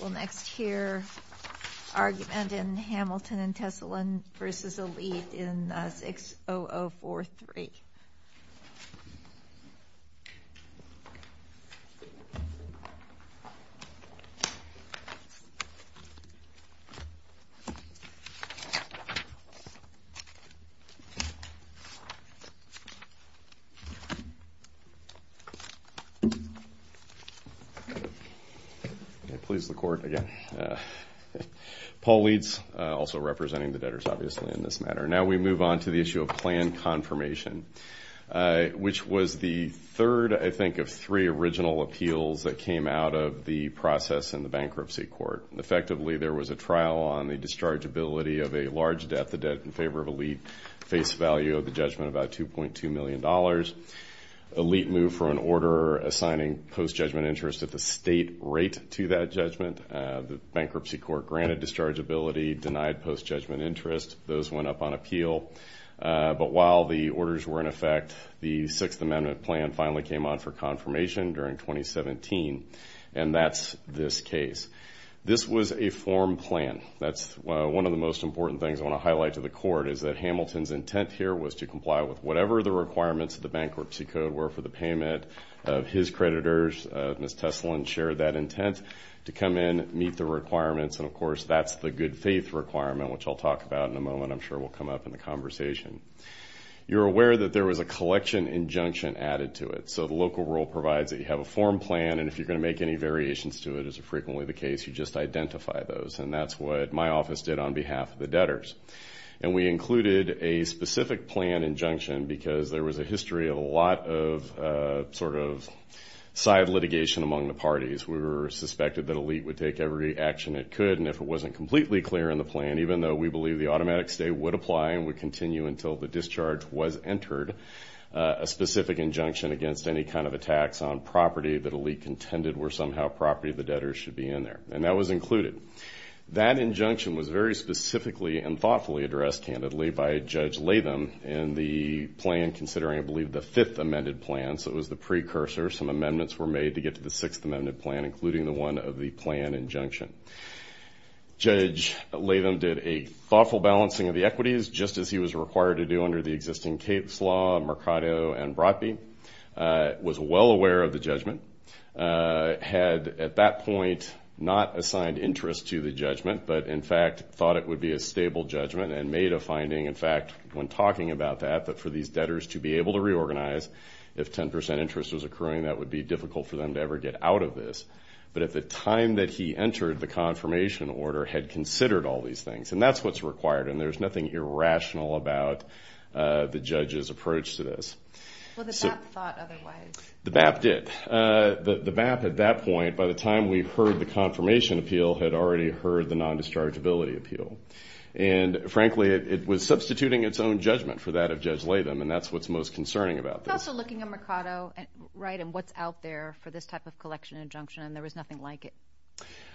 We'll next hear argument in Hamilton and Tessalon v. Elite in 60043. Please the court again. Paul Leeds, also representing the debtors, obviously, in this matter. Now we move on to the issue of plan confirmation, which was the third, I think, of three original appeals that came out of the process in the bankruptcy court. Effectively, there was a trial on the dischargeability of a large debt, the debt in favor of Elite, face value of the judgment about $2.2 million. Elite moved for an order assigning post-judgment interest at the state rate to that judgment. The bankruptcy court granted dischargeability, denied post-judgment interest. Those went up on appeal. But while the orders were in effect, the Sixth Amendment plan finally came on for confirmation during 2017, and that's this case. This was a form plan. That's one of the most important things I want to highlight to the court, is that Hamilton's intent here was to comply with whatever the requirements of the bankruptcy code were for the payment. His creditors, Ms. Tessalon, shared that intent to come in, meet the requirements, and, of course, that's the good faith requirement, which I'll talk about in a moment. I'm sure it will come up in the conversation. You're aware that there was a collection injunction added to it. So the local rule provides that you have a form plan, and if you're going to make any variations to it, as is frequently the case, you just identify those. And that's what my office did on behalf of the debtors. And we included a specific plan injunction because there was a history of a lot of sort of side litigation among the parties. We were suspected that Elite would take every action it could, and if it wasn't completely clear in the plan, even though we believe the automatic stay would apply and would continue until the discharge was entered, a specific injunction against any kind of attacks on property that Elite contended were somehow property of the debtors should be in there. And that was included. That injunction was very specifically and thoughtfully addressed, candidly, by Judge Latham in the plan, considering, I believe, the fifth amended plan. So it was the precursor. Some amendments were made to get to the sixth amended plan, including the one of the plan injunction. Judge Latham did a thoughtful balancing of the equities, just as he was required to do under the existing Cates law, Mercado, and Brotby. Was well aware of the judgment. Had, at that point, not assigned interest to the judgment, but, in fact, thought it would be a stable judgment and made a finding, in fact, when talking about that, that for these debtors to be able to reorganize, if 10% interest was accruing, that would be difficult for them to ever get out of this. But at the time that he entered, the confirmation order had considered all these things, and that's what's required, and there's nothing irrational about the judge's approach to this. Well, the BAP thought otherwise. The BAP did. The BAP, at that point, by the time we heard the confirmation appeal, had already heard the non-dischargeability appeal. And, frankly, it was substituting its own judgment for that of Judge Latham, and that's what's most concerning about this. Also looking at Mercado, right, and what's out there for this type of collection injunction, and there was nothing like it.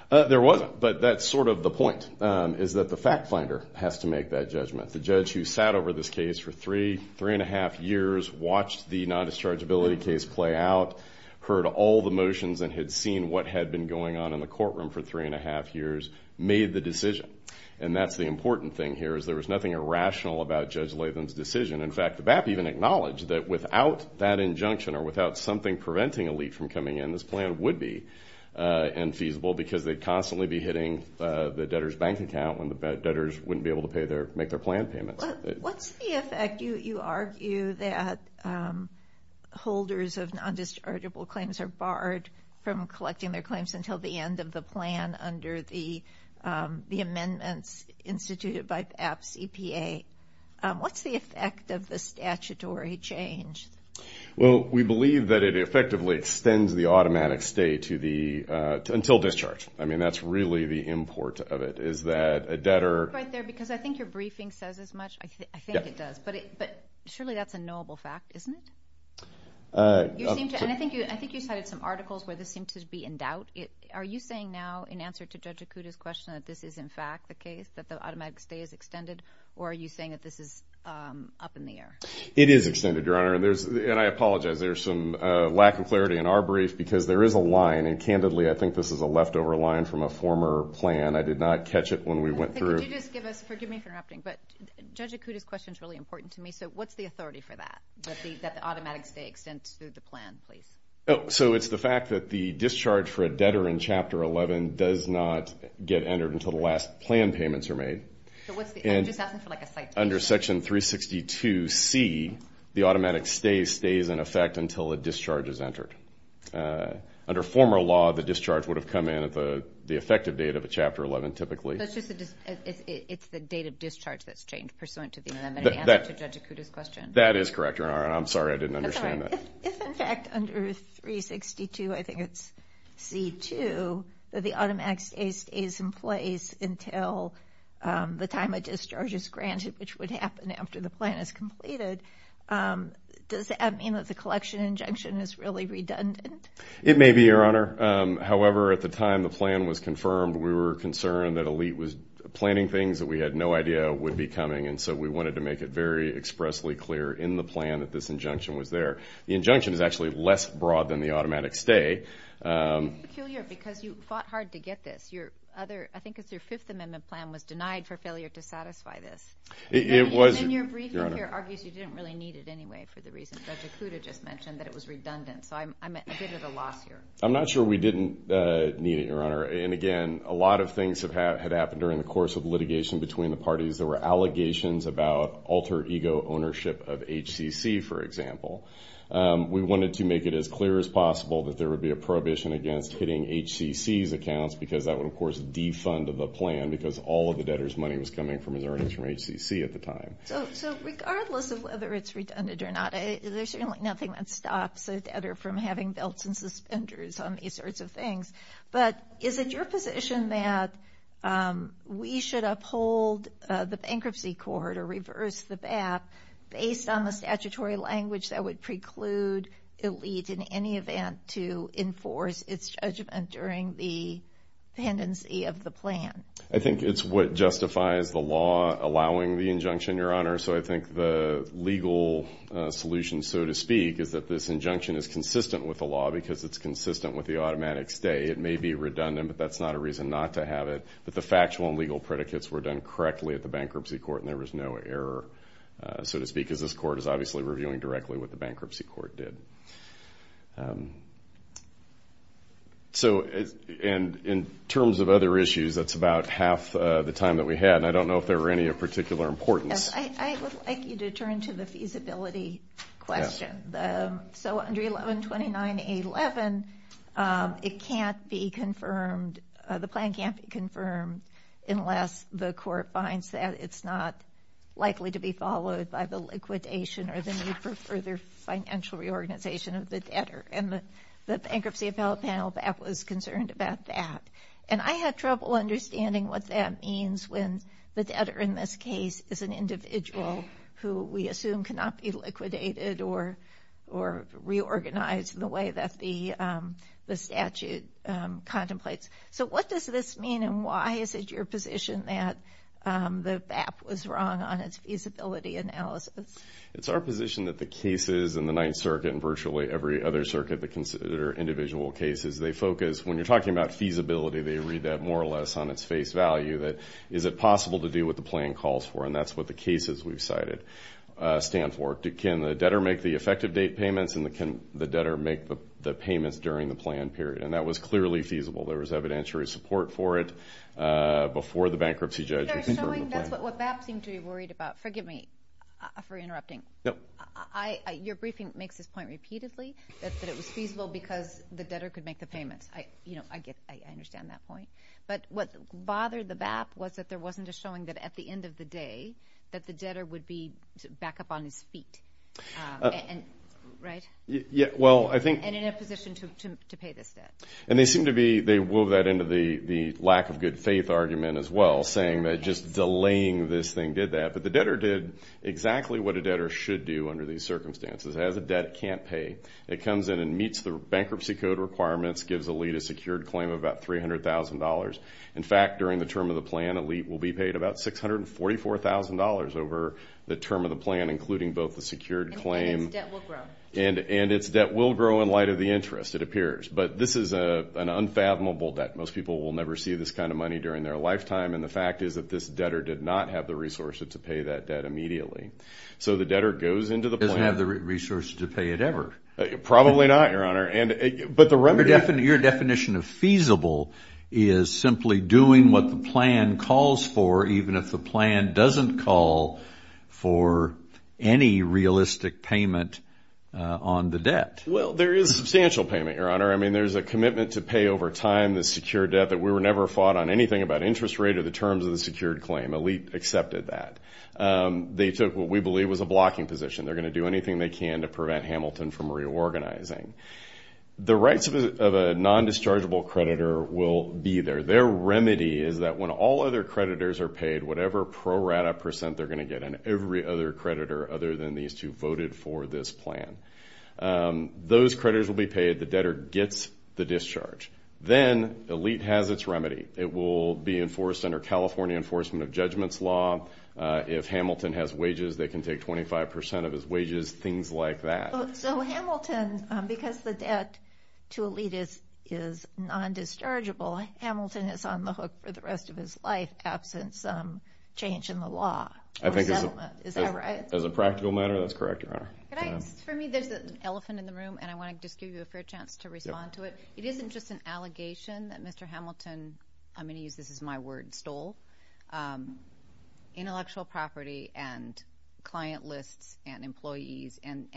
There wasn't, but that's sort of the point, is that the fact finder has to make that judgment. The judge who sat over this case for three, three-and-a-half years, watched the non-dischargeability case play out, heard all the motions and had seen what had been going on in the courtroom for three-and-a-half years, made the decision. And that's the important thing here, is there was nothing irrational about Judge Latham's decision. In fact, the BAP even acknowledged that without that injunction or without something preventing a leak from coming in, this plan would be infeasible because they'd constantly be hitting the debtor's bank account when the debtors wouldn't be able to make their plan payments. What's the effect? You argue that holders of non-dischargeable claims are barred from collecting their claims until the end of the plan under the amendments instituted by BAP's EPA. What's the effect of the statutory change? Well, we believe that it effectively extends the automatic stay until discharge. I mean, that's really the import of it is that a debtor Right there, because I think your briefing says as much. I think it does, but surely that's a knowable fact, isn't it? I think you cited some articles where this seemed to be in doubt. Are you saying now, in answer to Judge Okuda's question, that this is in fact the case, that the automatic stay is extended, or are you saying that this is up in the air? It is extended, Your Honor, and I apologize. There's some lack of clarity in our brief because there is a line, and candidly, I think this is a leftover line from a former plan. I did not catch it when we went through. Could you just give us, forgive me for interrupting, but Judge Okuda's question is really important to me. So what's the authority for that, that the automatic stay extends through the plan, please? So it's the fact that the discharge for a debtor in Chapter 11 does not get entered until the last plan payments are made. I'm just asking for like a citation. Under Section 362C, the automatic stay stays in effect until a discharge is entered. Under former law, the discharge would have come in at the effective date of a Chapter 11 typically. It's the date of discharge that's changed pursuant to the amendment in answer to Judge Okuda's question. That is correct, Your Honor, and I'm sorry I didn't understand that. If, in fact, under 362, I think it's C-2, that the automatic stay stays in place until the time a discharge is granted, which would happen after the plan is completed, does that mean that the collection injunction is really redundant? It may be, Your Honor. However, at the time the plan was confirmed, we were concerned that Elite was planning things that we had no idea would be coming, and so we wanted to make it very expressly clear in the plan that this injunction was there. The injunction is actually less broad than the automatic stay. It's peculiar because you fought hard to get this. I think it's your Fifth Amendment plan was denied for failure to satisfy this. It was, Your Honor. And your briefing here argues you didn't really need it anyway for the reasons Judge Okuda just mentioned, that it was redundant, so I'm at a bit of a loss here. I'm not sure we didn't need it, Your Honor, and, again, a lot of things had happened during the course of litigation between the parties. There were allegations about alter ego ownership of HCC, for example. We wanted to make it as clear as possible that there would be a prohibition against hitting HCC's accounts because that would, of course, defund the plan because all of the debtor's money was coming from his earnings from HCC at the time. So regardless of whether it's redundant or not, there's certainly nothing that stops a debtor from having belts and suspenders on these sorts of things, but is it your position that we should uphold the bankruptcy court or reverse the BAP based on the statutory language that would preclude Elite, in any event, to enforce its judgment during the pendency of the plan? I think it's what justifies the law allowing the injunction, Your Honor. So I think the legal solution, so to speak, is that this injunction is consistent with the law because it's consistent with the automatic stay. It may be redundant, but that's not a reason not to have it, but the factual and legal predicates were done correctly at the bankruptcy court and there was no error, so to speak, because this court is obviously reviewing directly what the bankruptcy court did. So in terms of other issues, that's about half the time that we had, and I don't know if there were any of particular importance. I would like you to turn to the feasibility question. So under 1129.11, it can't be confirmed, the plan can't be confirmed, unless the court finds that it's not likely to be followed by the liquidation or the need for further financial reorganization of the debtor, and the Bankruptcy Appellate Panel BAP was concerned about that. And I had trouble understanding what that means when the debtor in this case is an individual who we assume cannot be liquidated or reorganized in the way that the statute contemplates. So what does this mean and why is it your position that the BAP was wrong on its feasibility analysis? It's our position that the cases in the Ninth Circuit and virtually every other circuit that consider individual cases, they focus, when you're talking about feasibility, they read that more or less on its face value, that is it possible to do what the plan calls for, and that's what the cases we've cited stand for. Can the debtor make the effective date payments and can the debtor make the payments during the planned period? And that was clearly feasible. There was evidentiary support for it before the bankruptcy judge That's what BAP seemed to be worried about. Forgive me for interrupting. Your briefing makes this point repeatedly, that it was feasible because the debtor could make the payments. I understand that point. But what bothered the BAP was that there wasn't a showing that at the end of the day that the debtor would be back up on his feet, right? And in a position to pay this debt. And they seem to be, they wove that into the lack of good faith argument as well, saying that just delaying this thing did that. But the debtor did exactly what a debtor should do under these circumstances. It has a debt it can't pay. It comes in and meets the bankruptcy code requirements, gives a lead a secured claim of about $300,000. In fact, during the term of the plan, a lead will be paid about $644,000 over the term of the plan, including both the secured claim. And its debt will grow. And its debt will grow in light of the interest, it appears. But this is an unfathomable debt. Most people will never see this kind of money during their lifetime, and the fact is that this debtor did not have the resources to pay that debt immediately. So the debtor goes into the plan. Doesn't have the resources to pay it ever. Probably not, Your Honor. Your definition of feasible is simply doing what the plan calls for, even if the plan doesn't call for any realistic payment on the debt. Well, there is substantial payment, Your Honor. I mean, there's a commitment to pay over time the secured debt that we never fought on anything about interest rate or the terms of the secured claim. A lead accepted that. They took what we believe was a blocking position. They're going to do anything they can to prevent Hamilton from reorganizing. The rights of a non-dischargeable creditor will be there. Their remedy is that when all other creditors are paid, whatever pro rata percent they're going to get, and every other creditor other than these two voted for this plan, those creditors will be paid. The debtor gets the discharge. Then the lead has its remedy. It will be enforced under California enforcement of judgments law. If Hamilton has wages, they can take 25% of his wages, things like that. So Hamilton, because the debt to a lead is non-dischargeable, Hamilton is on the hook for the rest of his life, absent some change in the law or settlement. Is that right? As a practical matter, that's correct, Your Honor. For me, there's an elephant in the room, and I want to just give you a fair chance to respond to it. It isn't just an allegation that Mr. Hamilton, I'm going to use this as my word, stole intellectual property and client lists and employees and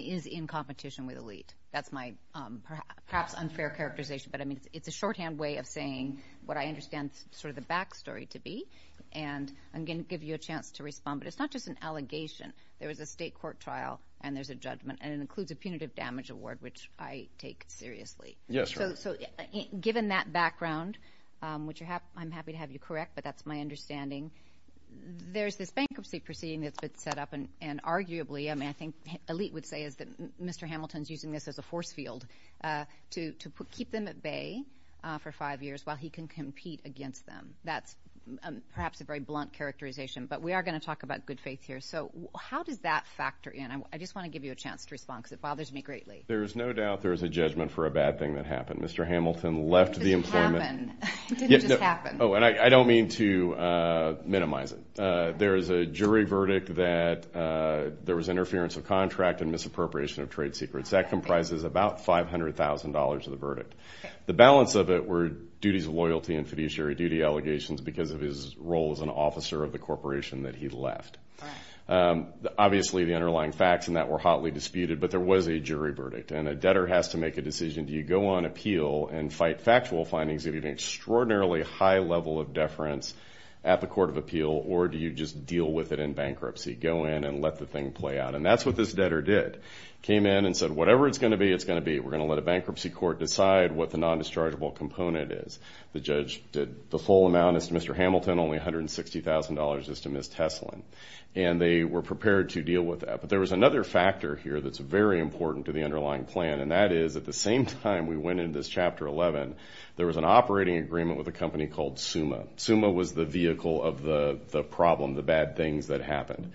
is in competition with a lead. That's my perhaps unfair characterization, but it's a shorthand way of saying what I understand sort of the back story to be, and I'm going to give you a chance to respond. But it's not just an allegation. There was a state court trial, and there's a judgment, and it includes a punitive damage award, which I take seriously. Yes, Your Honor. So given that background, which I'm happy to have you correct, but that's my understanding, there's this bankruptcy proceeding that's been set up, and arguably, I mean, I think Elite would say is that Mr. Hamilton is using this as a force field to keep them at bay for five years while he can compete against them. That's perhaps a very blunt characterization, but we are going to talk about good faith here. So how does that factor in? I just want to give you a chance to respond because it bothers me greatly. There is no doubt there is a judgment for a bad thing that happened. Mr. Hamilton left the employment. Did it just happen? Oh, and I don't mean to minimize it. There is a jury verdict that there was interference of contract and misappropriation of trade secrets. That comprises about $500,000 of the verdict. The balance of it were duties of loyalty and fiduciary duty allegations because of his role as an officer of the corporation that he left. Obviously, the underlying facts in that were hotly disputed, but there was a jury verdict, and a debtor has to make a decision. Do you go on appeal and fight factual findings if you have an extraordinarily high level of deference at the court of appeal, or do you just deal with it in bankruptcy? Go in and let the thing play out, and that's what this debtor did. He came in and said, whatever it's going to be, it's going to be. We're going to let a bankruptcy court decide what the non-dischargeable component is. The judge did the full amount. Only $160,000 is to Ms. Teslin, and they were prepared to deal with that. But there was another factor here that's very important to the underlying plan, and that is at the same time we went into this Chapter 11, there was an operating agreement with a company called SUMA. SUMA was the vehicle of the problem, the bad things that happened.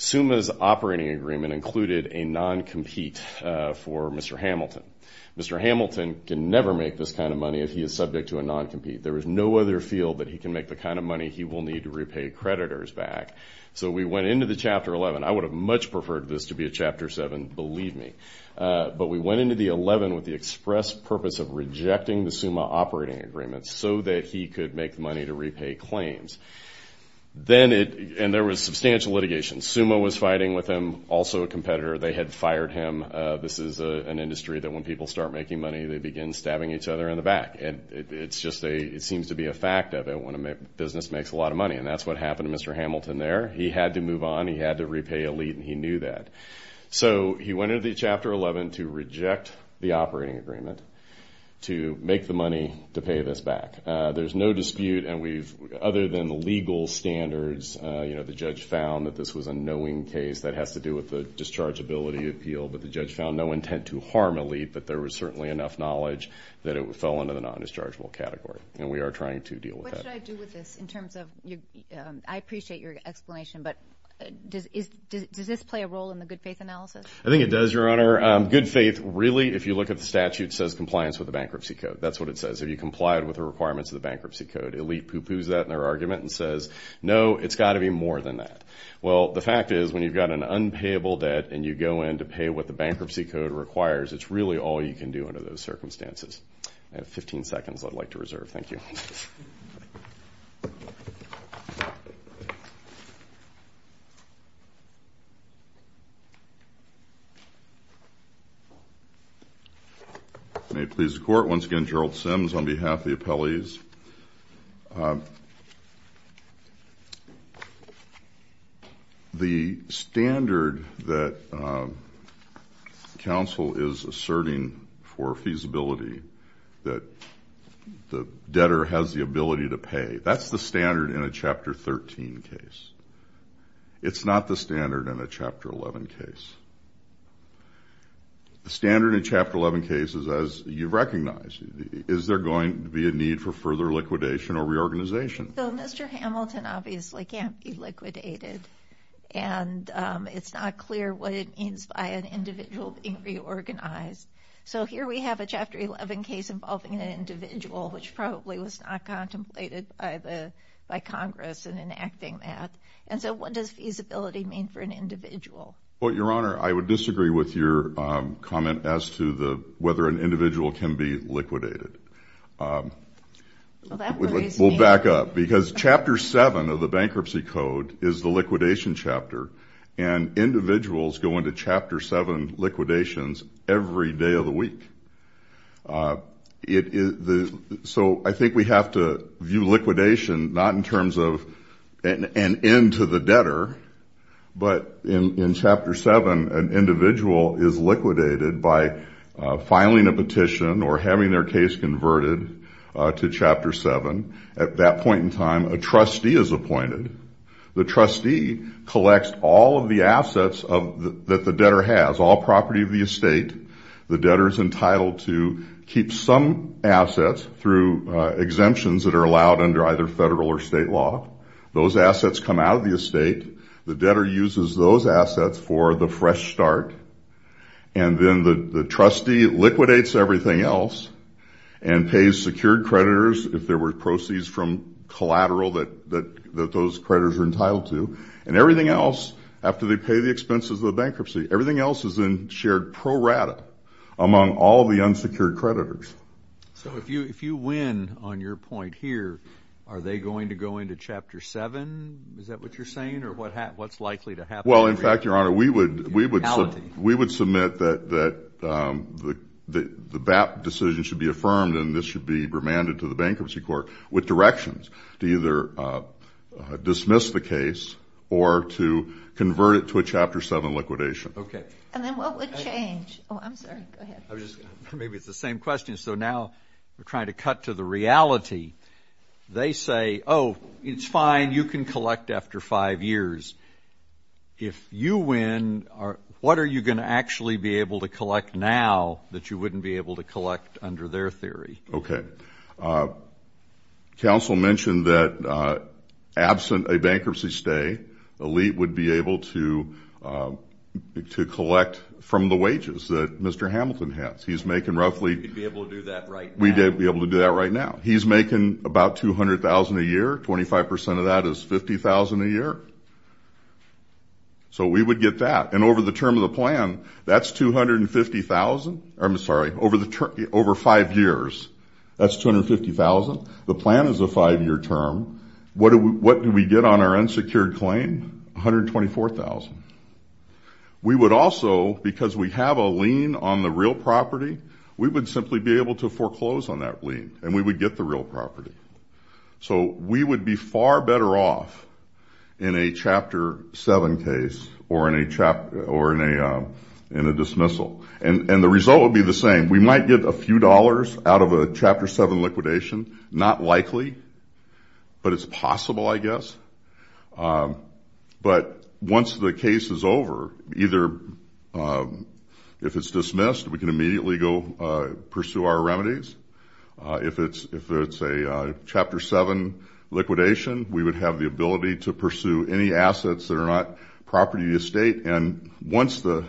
SUMA's operating agreement included a non-compete for Mr. Hamilton. Mr. Hamilton can never make this kind of money if he is subject to a non-compete. There is no other field that he can make the kind of money he will need to repay creditors back. So we went into the Chapter 11. I would have much preferred this to be a Chapter 7, believe me. But we went into the 11 with the express purpose of rejecting the SUMA operating agreement so that he could make money to repay claims. And there was substantial litigation. SUMA was fighting with him, also a competitor. They had fired him. This is an industry that when people start making money, they begin stabbing each other in the back. And it seems to be a fact of it when a business makes a lot of money, and that's what happened to Mr. Hamilton there. He had to move on. He had to repay a lead, and he knew that. So he went into the Chapter 11 to reject the operating agreement to make the money to pay this back. There's no dispute, and other than the legal standards, the judge found that this was a knowing case. That has to do with the dischargeability appeal. But the judge found no intent to harm a lead, but there was certainly enough knowledge that it fell into the non-dischargeable category, and we are trying to deal with that. What should I do with this in terms of your ñ I appreciate your explanation, but does this play a role in the good faith analysis? I think it does, Your Honor. Good faith, really, if you look at the statute, says compliance with the bankruptcy code. That's what it says. Have you complied with the requirements of the bankruptcy code? Elite poo-poos that in their argument and says, no, it's got to be more than that. Well, the fact is when you've got an unpayable debt and you go in to pay what the bankruptcy code requires, it's really all you can do under those circumstances. I have 15 seconds I'd like to reserve. Thank you. May it please the Court. Once again, Gerald Sims on behalf of the appellees. The standard that counsel is asserting for feasibility that the debtor has the ability to pay, that's the standard in a Chapter 13 case. It's not the standard in a Chapter 11 case. The standard in Chapter 11 cases, as you've recognized, is there going to be a need for further liquidation or reorganization? Mr. Hamilton obviously can't be liquidated, and it's not clear what it means by an individual being reorganized. So here we have a Chapter 11 case involving an individual, which probably was not contemplated by Congress in enacting that. And so what does feasibility mean for an individual? Well, Your Honor, I would disagree with your comment as to whether an individual can be liquidated. We'll back up, because Chapter 7 of the bankruptcy code is the liquidation chapter, and individuals go into Chapter 7 liquidations every day of the week. So I think we have to view liquidation not in terms of an end to the debtor, but in Chapter 7, an individual is liquidated by filing a petition or having their case converted to Chapter 7. At that point in time, a trustee is appointed. The trustee collects all of the assets that the debtor has, all property of the estate. The debtor is entitled to keep some assets through exemptions that are allowed under either federal or state law. Those assets come out of the estate. The debtor uses those assets for the fresh start, and then the trustee liquidates everything else and pays secured creditors if there were proceeds from collateral that those creditors are entitled to. And everything else, after they pay the expenses of the bankruptcy, everything else is in shared pro rata among all the unsecured creditors. So if you win on your point here, are they going to go into Chapter 7? Is that what you're saying, or what's likely to happen? Well, in fact, Your Honor, we would submit that the BAP decision should be affirmed, and this should be remanded to the Bankruptcy Court with directions to either dismiss the case or to convert it to a Chapter 7 liquidation. Okay. And then what would change? Oh, I'm sorry. Go ahead. Maybe it's the same question, so now we're trying to cut to the reality. They say, oh, it's fine, you can collect after five years. If you win, what are you going to actually be able to collect now that you wouldn't be able to collect under their theory? Okay. Counsel mentioned that absent a bankruptcy stay, the elite would be able to collect from the wages that Mr. Hamilton has. He's making roughly we'd be able to do that right now. He's making about $200,000 a year. Twenty-five percent of that is $50,000 a year. So we would get that. And over the term of the plan, that's $250,000. I'm sorry, over five years, that's $250,000. The plan is a five-year term. What do we get on our unsecured claim? $124,000. We would also, because we have a lien on the real property, we would simply be able to foreclose on that lien, and we would get the real property. So we would be far better off in a Chapter 7 case or in a dismissal. And the result would be the same. And we might get a few dollars out of a Chapter 7 liquidation. Not likely, but it's possible, I guess. But once the case is over, either if it's dismissed, we can immediately go pursue our remedies. If it's a Chapter 7 liquidation, we would have the ability to pursue any assets that are not property or estate. And once the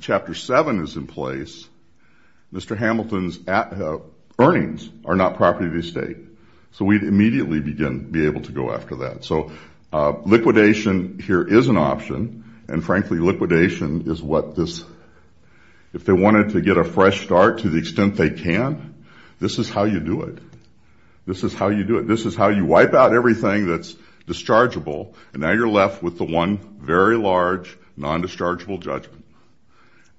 Chapter 7 is in place, Mr. Hamilton's earnings are not property or estate. So we'd immediately be able to go after that. So liquidation here is an option. And, frankly, liquidation is what this – if they wanted to get a fresh start to the extent they can, this is how you do it. This is how you do it. This is how you wipe out everything that's dischargeable, and now you're left with the one very large non-dischargeable judgment,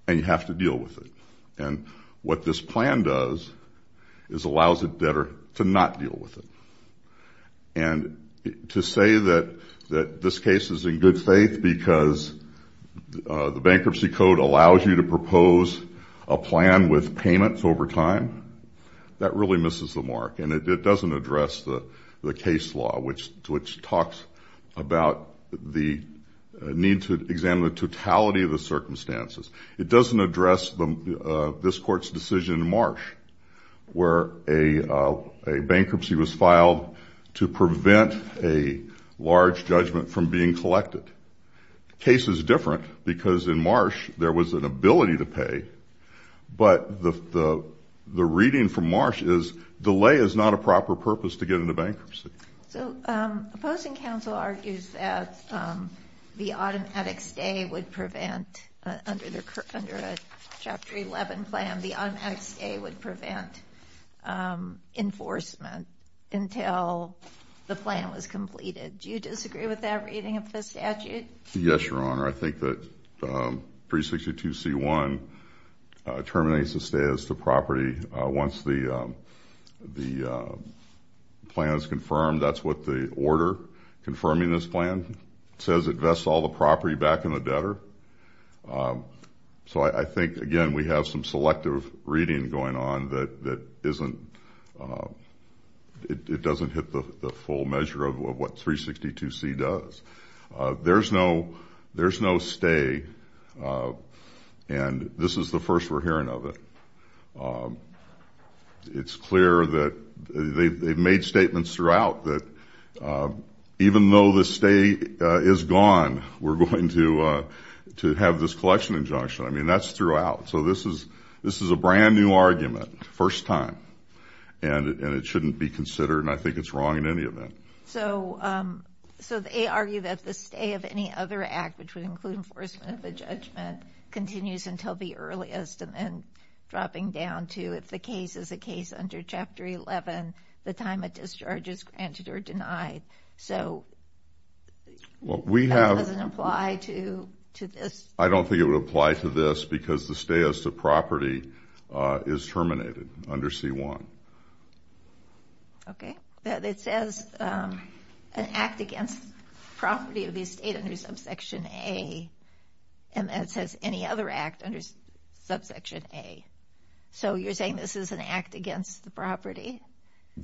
and you have to deal with it. And what this plan does is allows the debtor to not deal with it. And to say that this case is in good faith because the Bankruptcy Code allows you to propose a plan with payments over time, that really misses the mark. And it doesn't address the case law, which talks about the need to examine the totality of the circumstances. It doesn't address this Court's decision in Marsh, where a bankruptcy was filed to prevent a large judgment from being collected. The case is different because in Marsh there was an ability to pay, but the reading from Marsh is delay is not a proper purpose to get into bankruptcy. So opposing counsel argues that the automatic stay would prevent – under a Chapter 11 plan, the automatic stay would prevent enforcement until the plan was completed. Do you disagree with that reading of the statute? Yes, Your Honor. I think that 362C1 terminates the stay as to property once the plan is confirmed. That's what the order confirming this plan says. It vests all the property back in the debtor. So I think, again, we have some selective reading going on that isn't – it doesn't hit the full measure of what 362C does. There's no stay, and this is the first we're hearing of it. It's clear that they've made statements throughout that even though the stay is gone, we're going to have this collection injunction. I mean, that's throughout. So this is a brand-new argument, first time, and it shouldn't be considered, and I think it's wrong in any event. So they argue that the stay of any other act, which would include enforcement of a judgment, continues until the earliest and then dropping down to if the case is a case under Chapter 11, the time of discharge is granted or denied. So that doesn't apply to this? I don't think it would apply to this because the stay as to property is terminated under C1. Okay. It says an act against property of the estate under Subsection A, and then it says any other act under Subsection A. So you're saying this is an act against the property?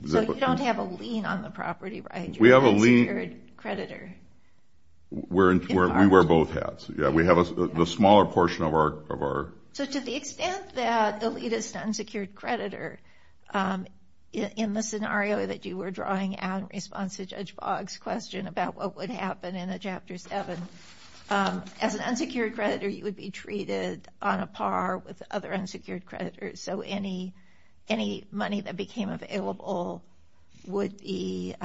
So you don't have a lien on the property, right? We have a lien. You're an unsecured creditor. We wear both hats. Yeah, we have the smaller portion of our – So to the extent that elitist unsecured creditor, in the scenario that you were drawing out in response to Judge Boggs' question about what would happen in a Chapter 7, as an unsecured creditor you would be treated on a par with other unsecured creditors, so any money that became available would be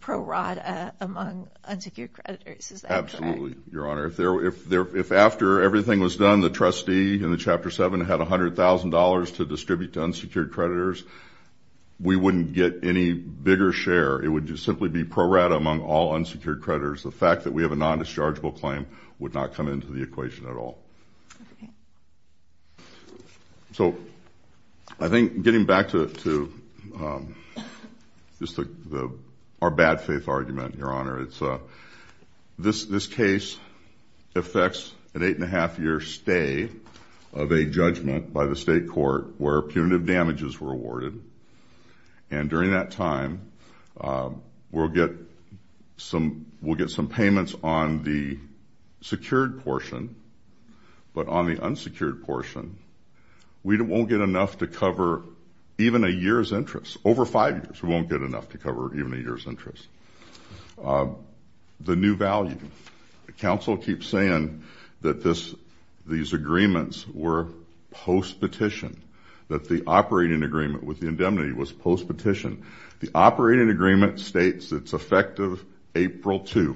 pro rata among unsecured creditors. Is that correct? Absolutely, Your Honor. If after everything was done the trustee in the Chapter 7 had $100,000 to distribute to unsecured creditors, we wouldn't get any bigger share. It would just simply be pro rata among all unsecured creditors. The fact that we have a non-dischargeable claim would not come into the equation at all. Okay. So I think getting back to just our bad faith argument, Your Honor, this case affects an eight-and-a-half year stay of a judgment by the state court where punitive damages were awarded, and during that time we'll get some payments on the secured portion, but on the unsecured portion we won't get enough to cover even a year's interest. The new value. The counsel keeps saying that these agreements were post-petition, that the operating agreement with the indemnity was post-petition. The operating agreement states it's effective April 2,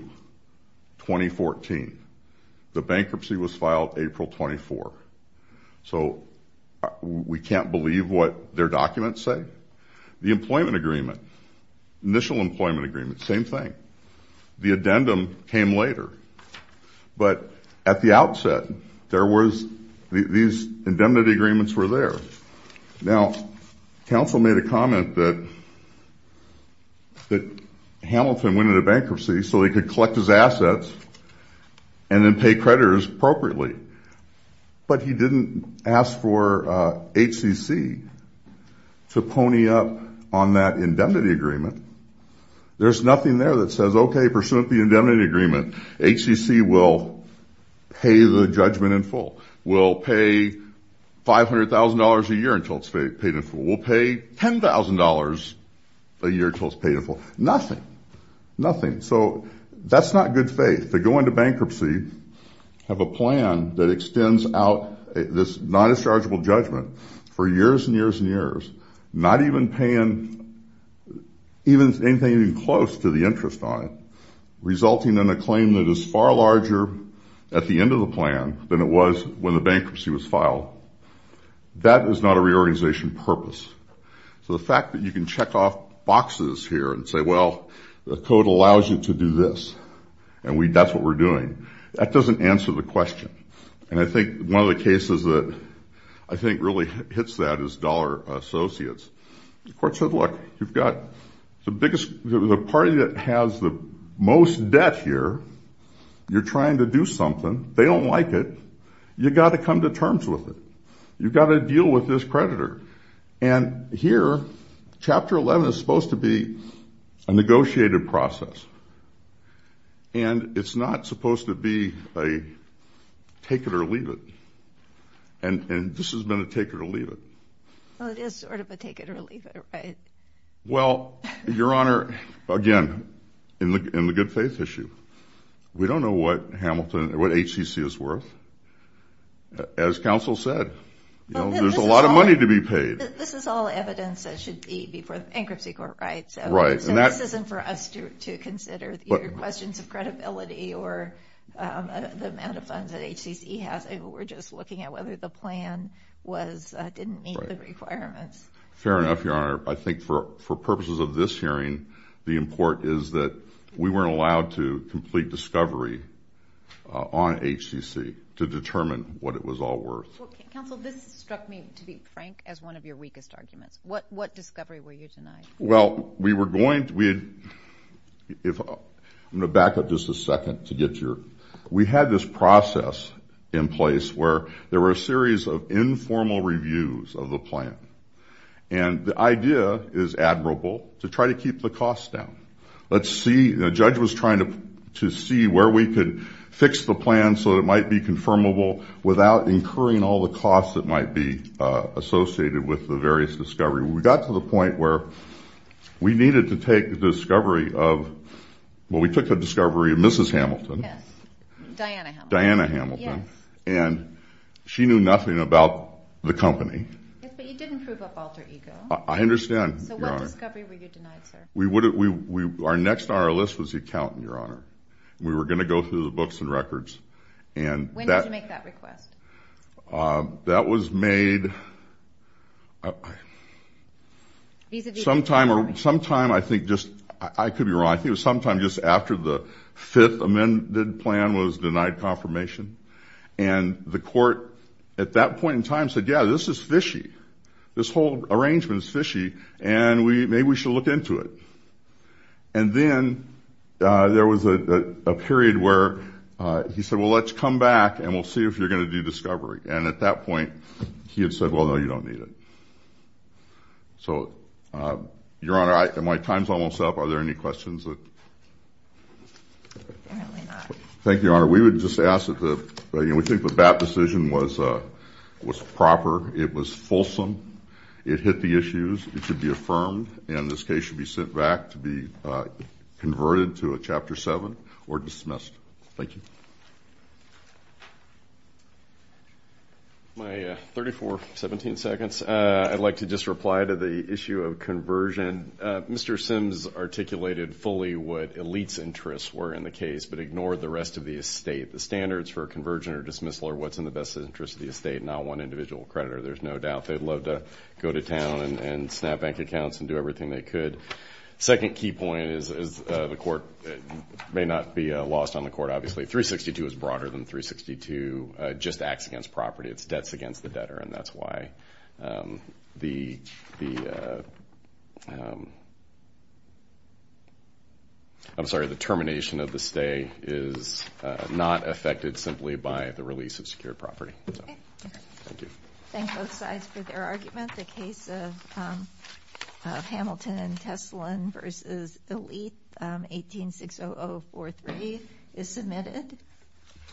2014. The bankruptcy was filed April 24. So we can't believe what their documents say? The employment agreement, initial employment agreement, same thing. The addendum came later. But at the outset, these indemnity agreements were there. Now, counsel made a comment that Hamilton went into bankruptcy so he could collect his assets and then pay creditors appropriately. But he didn't ask for HCC to pony up on that indemnity agreement. There's nothing there that says, okay, pursuant to the indemnity agreement, HCC will pay the judgment in full. We'll pay $500,000 a year until it's paid in full. We'll pay $10,000 a year until it's paid in full. Nothing. Nothing. So that's not good faith. They go into bankruptcy, have a plan that extends out this non-dischargeable judgment for years and years and years, not even paying anything even close to the interest on it, resulting in a claim that is far larger at the end of the plan than it was when the bankruptcy was filed. That is not a reorganization purpose. So the fact that you can check off boxes here and say, well, the code allows you to do this and that's what we're doing, that doesn't answer the question. And I think one of the cases that I think really hits that is Dollar Associates. The court said, look, you've got the party that has the most debt here. You're trying to do something. They don't like it. You've got to come to terms with it. You've got to deal with this creditor. And here, Chapter 11 is supposed to be a negotiated process, and it's not supposed to be a take-it-or-leave-it. And this has been a take-it-or-leave-it. Well, it is sort of a take-it-or-leave-it, right? Well, Your Honor, again, in the good faith issue, we don't know what HCC is worth. As counsel said, there's a lot of money to be paid. This is all evidence that should be before the bankruptcy court, right? So this isn't for us to consider questions of credibility or the amount of funds that HCC has. We're just looking at whether the plan didn't meet the requirements. Fair enough, Your Honor. I think for purposes of this hearing, the import is that we weren't allowed to complete discovery on HCC to determine what it was all worth. Counsel, this struck me, to be frank, as one of your weakest arguments. What discovery were you denied? Well, we were going to be—I'm going to back up just a second to get your— we had this process in place where there were a series of informal reviews of the plan. And the idea is admirable to try to keep the costs down. Let's see—the judge was trying to see where we could fix the plan so that it might be confirmable without incurring all the costs that might be associated with the various discoveries. We got to the point where we needed to take the discovery of— well, we took the discovery of Mrs. Hamilton. Yes, Diana Hamilton. Diana Hamilton. Yes. And she knew nothing about the company. Yes, but you didn't prove up alter ego. I understand, Your Honor. So what discovery were you denied, sir? Our next on our list was the accountant, Your Honor. We were going to go through the books and records. When did you make that request? That was made— Vis-a-vis— Sometime, I think just—I could be wrong. I think it was sometime just after the fifth amended plan was denied confirmation. And the court, at that point in time, said, yeah, this is fishy. This whole arrangement is fishy, and maybe we should look into it. And then there was a period where he said, well, let's come back and we'll see if you're going to do discovery. And at that point, he had said, well, no, you don't need it. So, Your Honor, my time's almost up. Are there any questions? Apparently not. Thank you, Your Honor. We would just ask that the—we think the BAP decision was proper. It was fulsome. It hit the issues. It should be affirmed, and this case should be sent back to be converted to a Chapter 7 or dismissed. Thank you. My 34, 17 seconds. I'd like to just reply to the issue of conversion. Mr. Sims articulated fully what elite's interests were in the case, but ignored the rest of the estate. The standards for a conversion or dismissal are what's in the best interest of the estate, not one individual creditor, there's no doubt. They'd love to go to town and snap bank accounts and do everything they could. Second key point is the court may not be lost on the court, obviously. 362 is broader than 362. It just acts against property. It's debts against the debtor, and that's why the—I'm sorry, the termination of the stay is not affected simply by the release of secured property. Thank you. Thank both sides for their argument. The case of Hamilton and Teslin v. Elite, 18-60043, is submitted.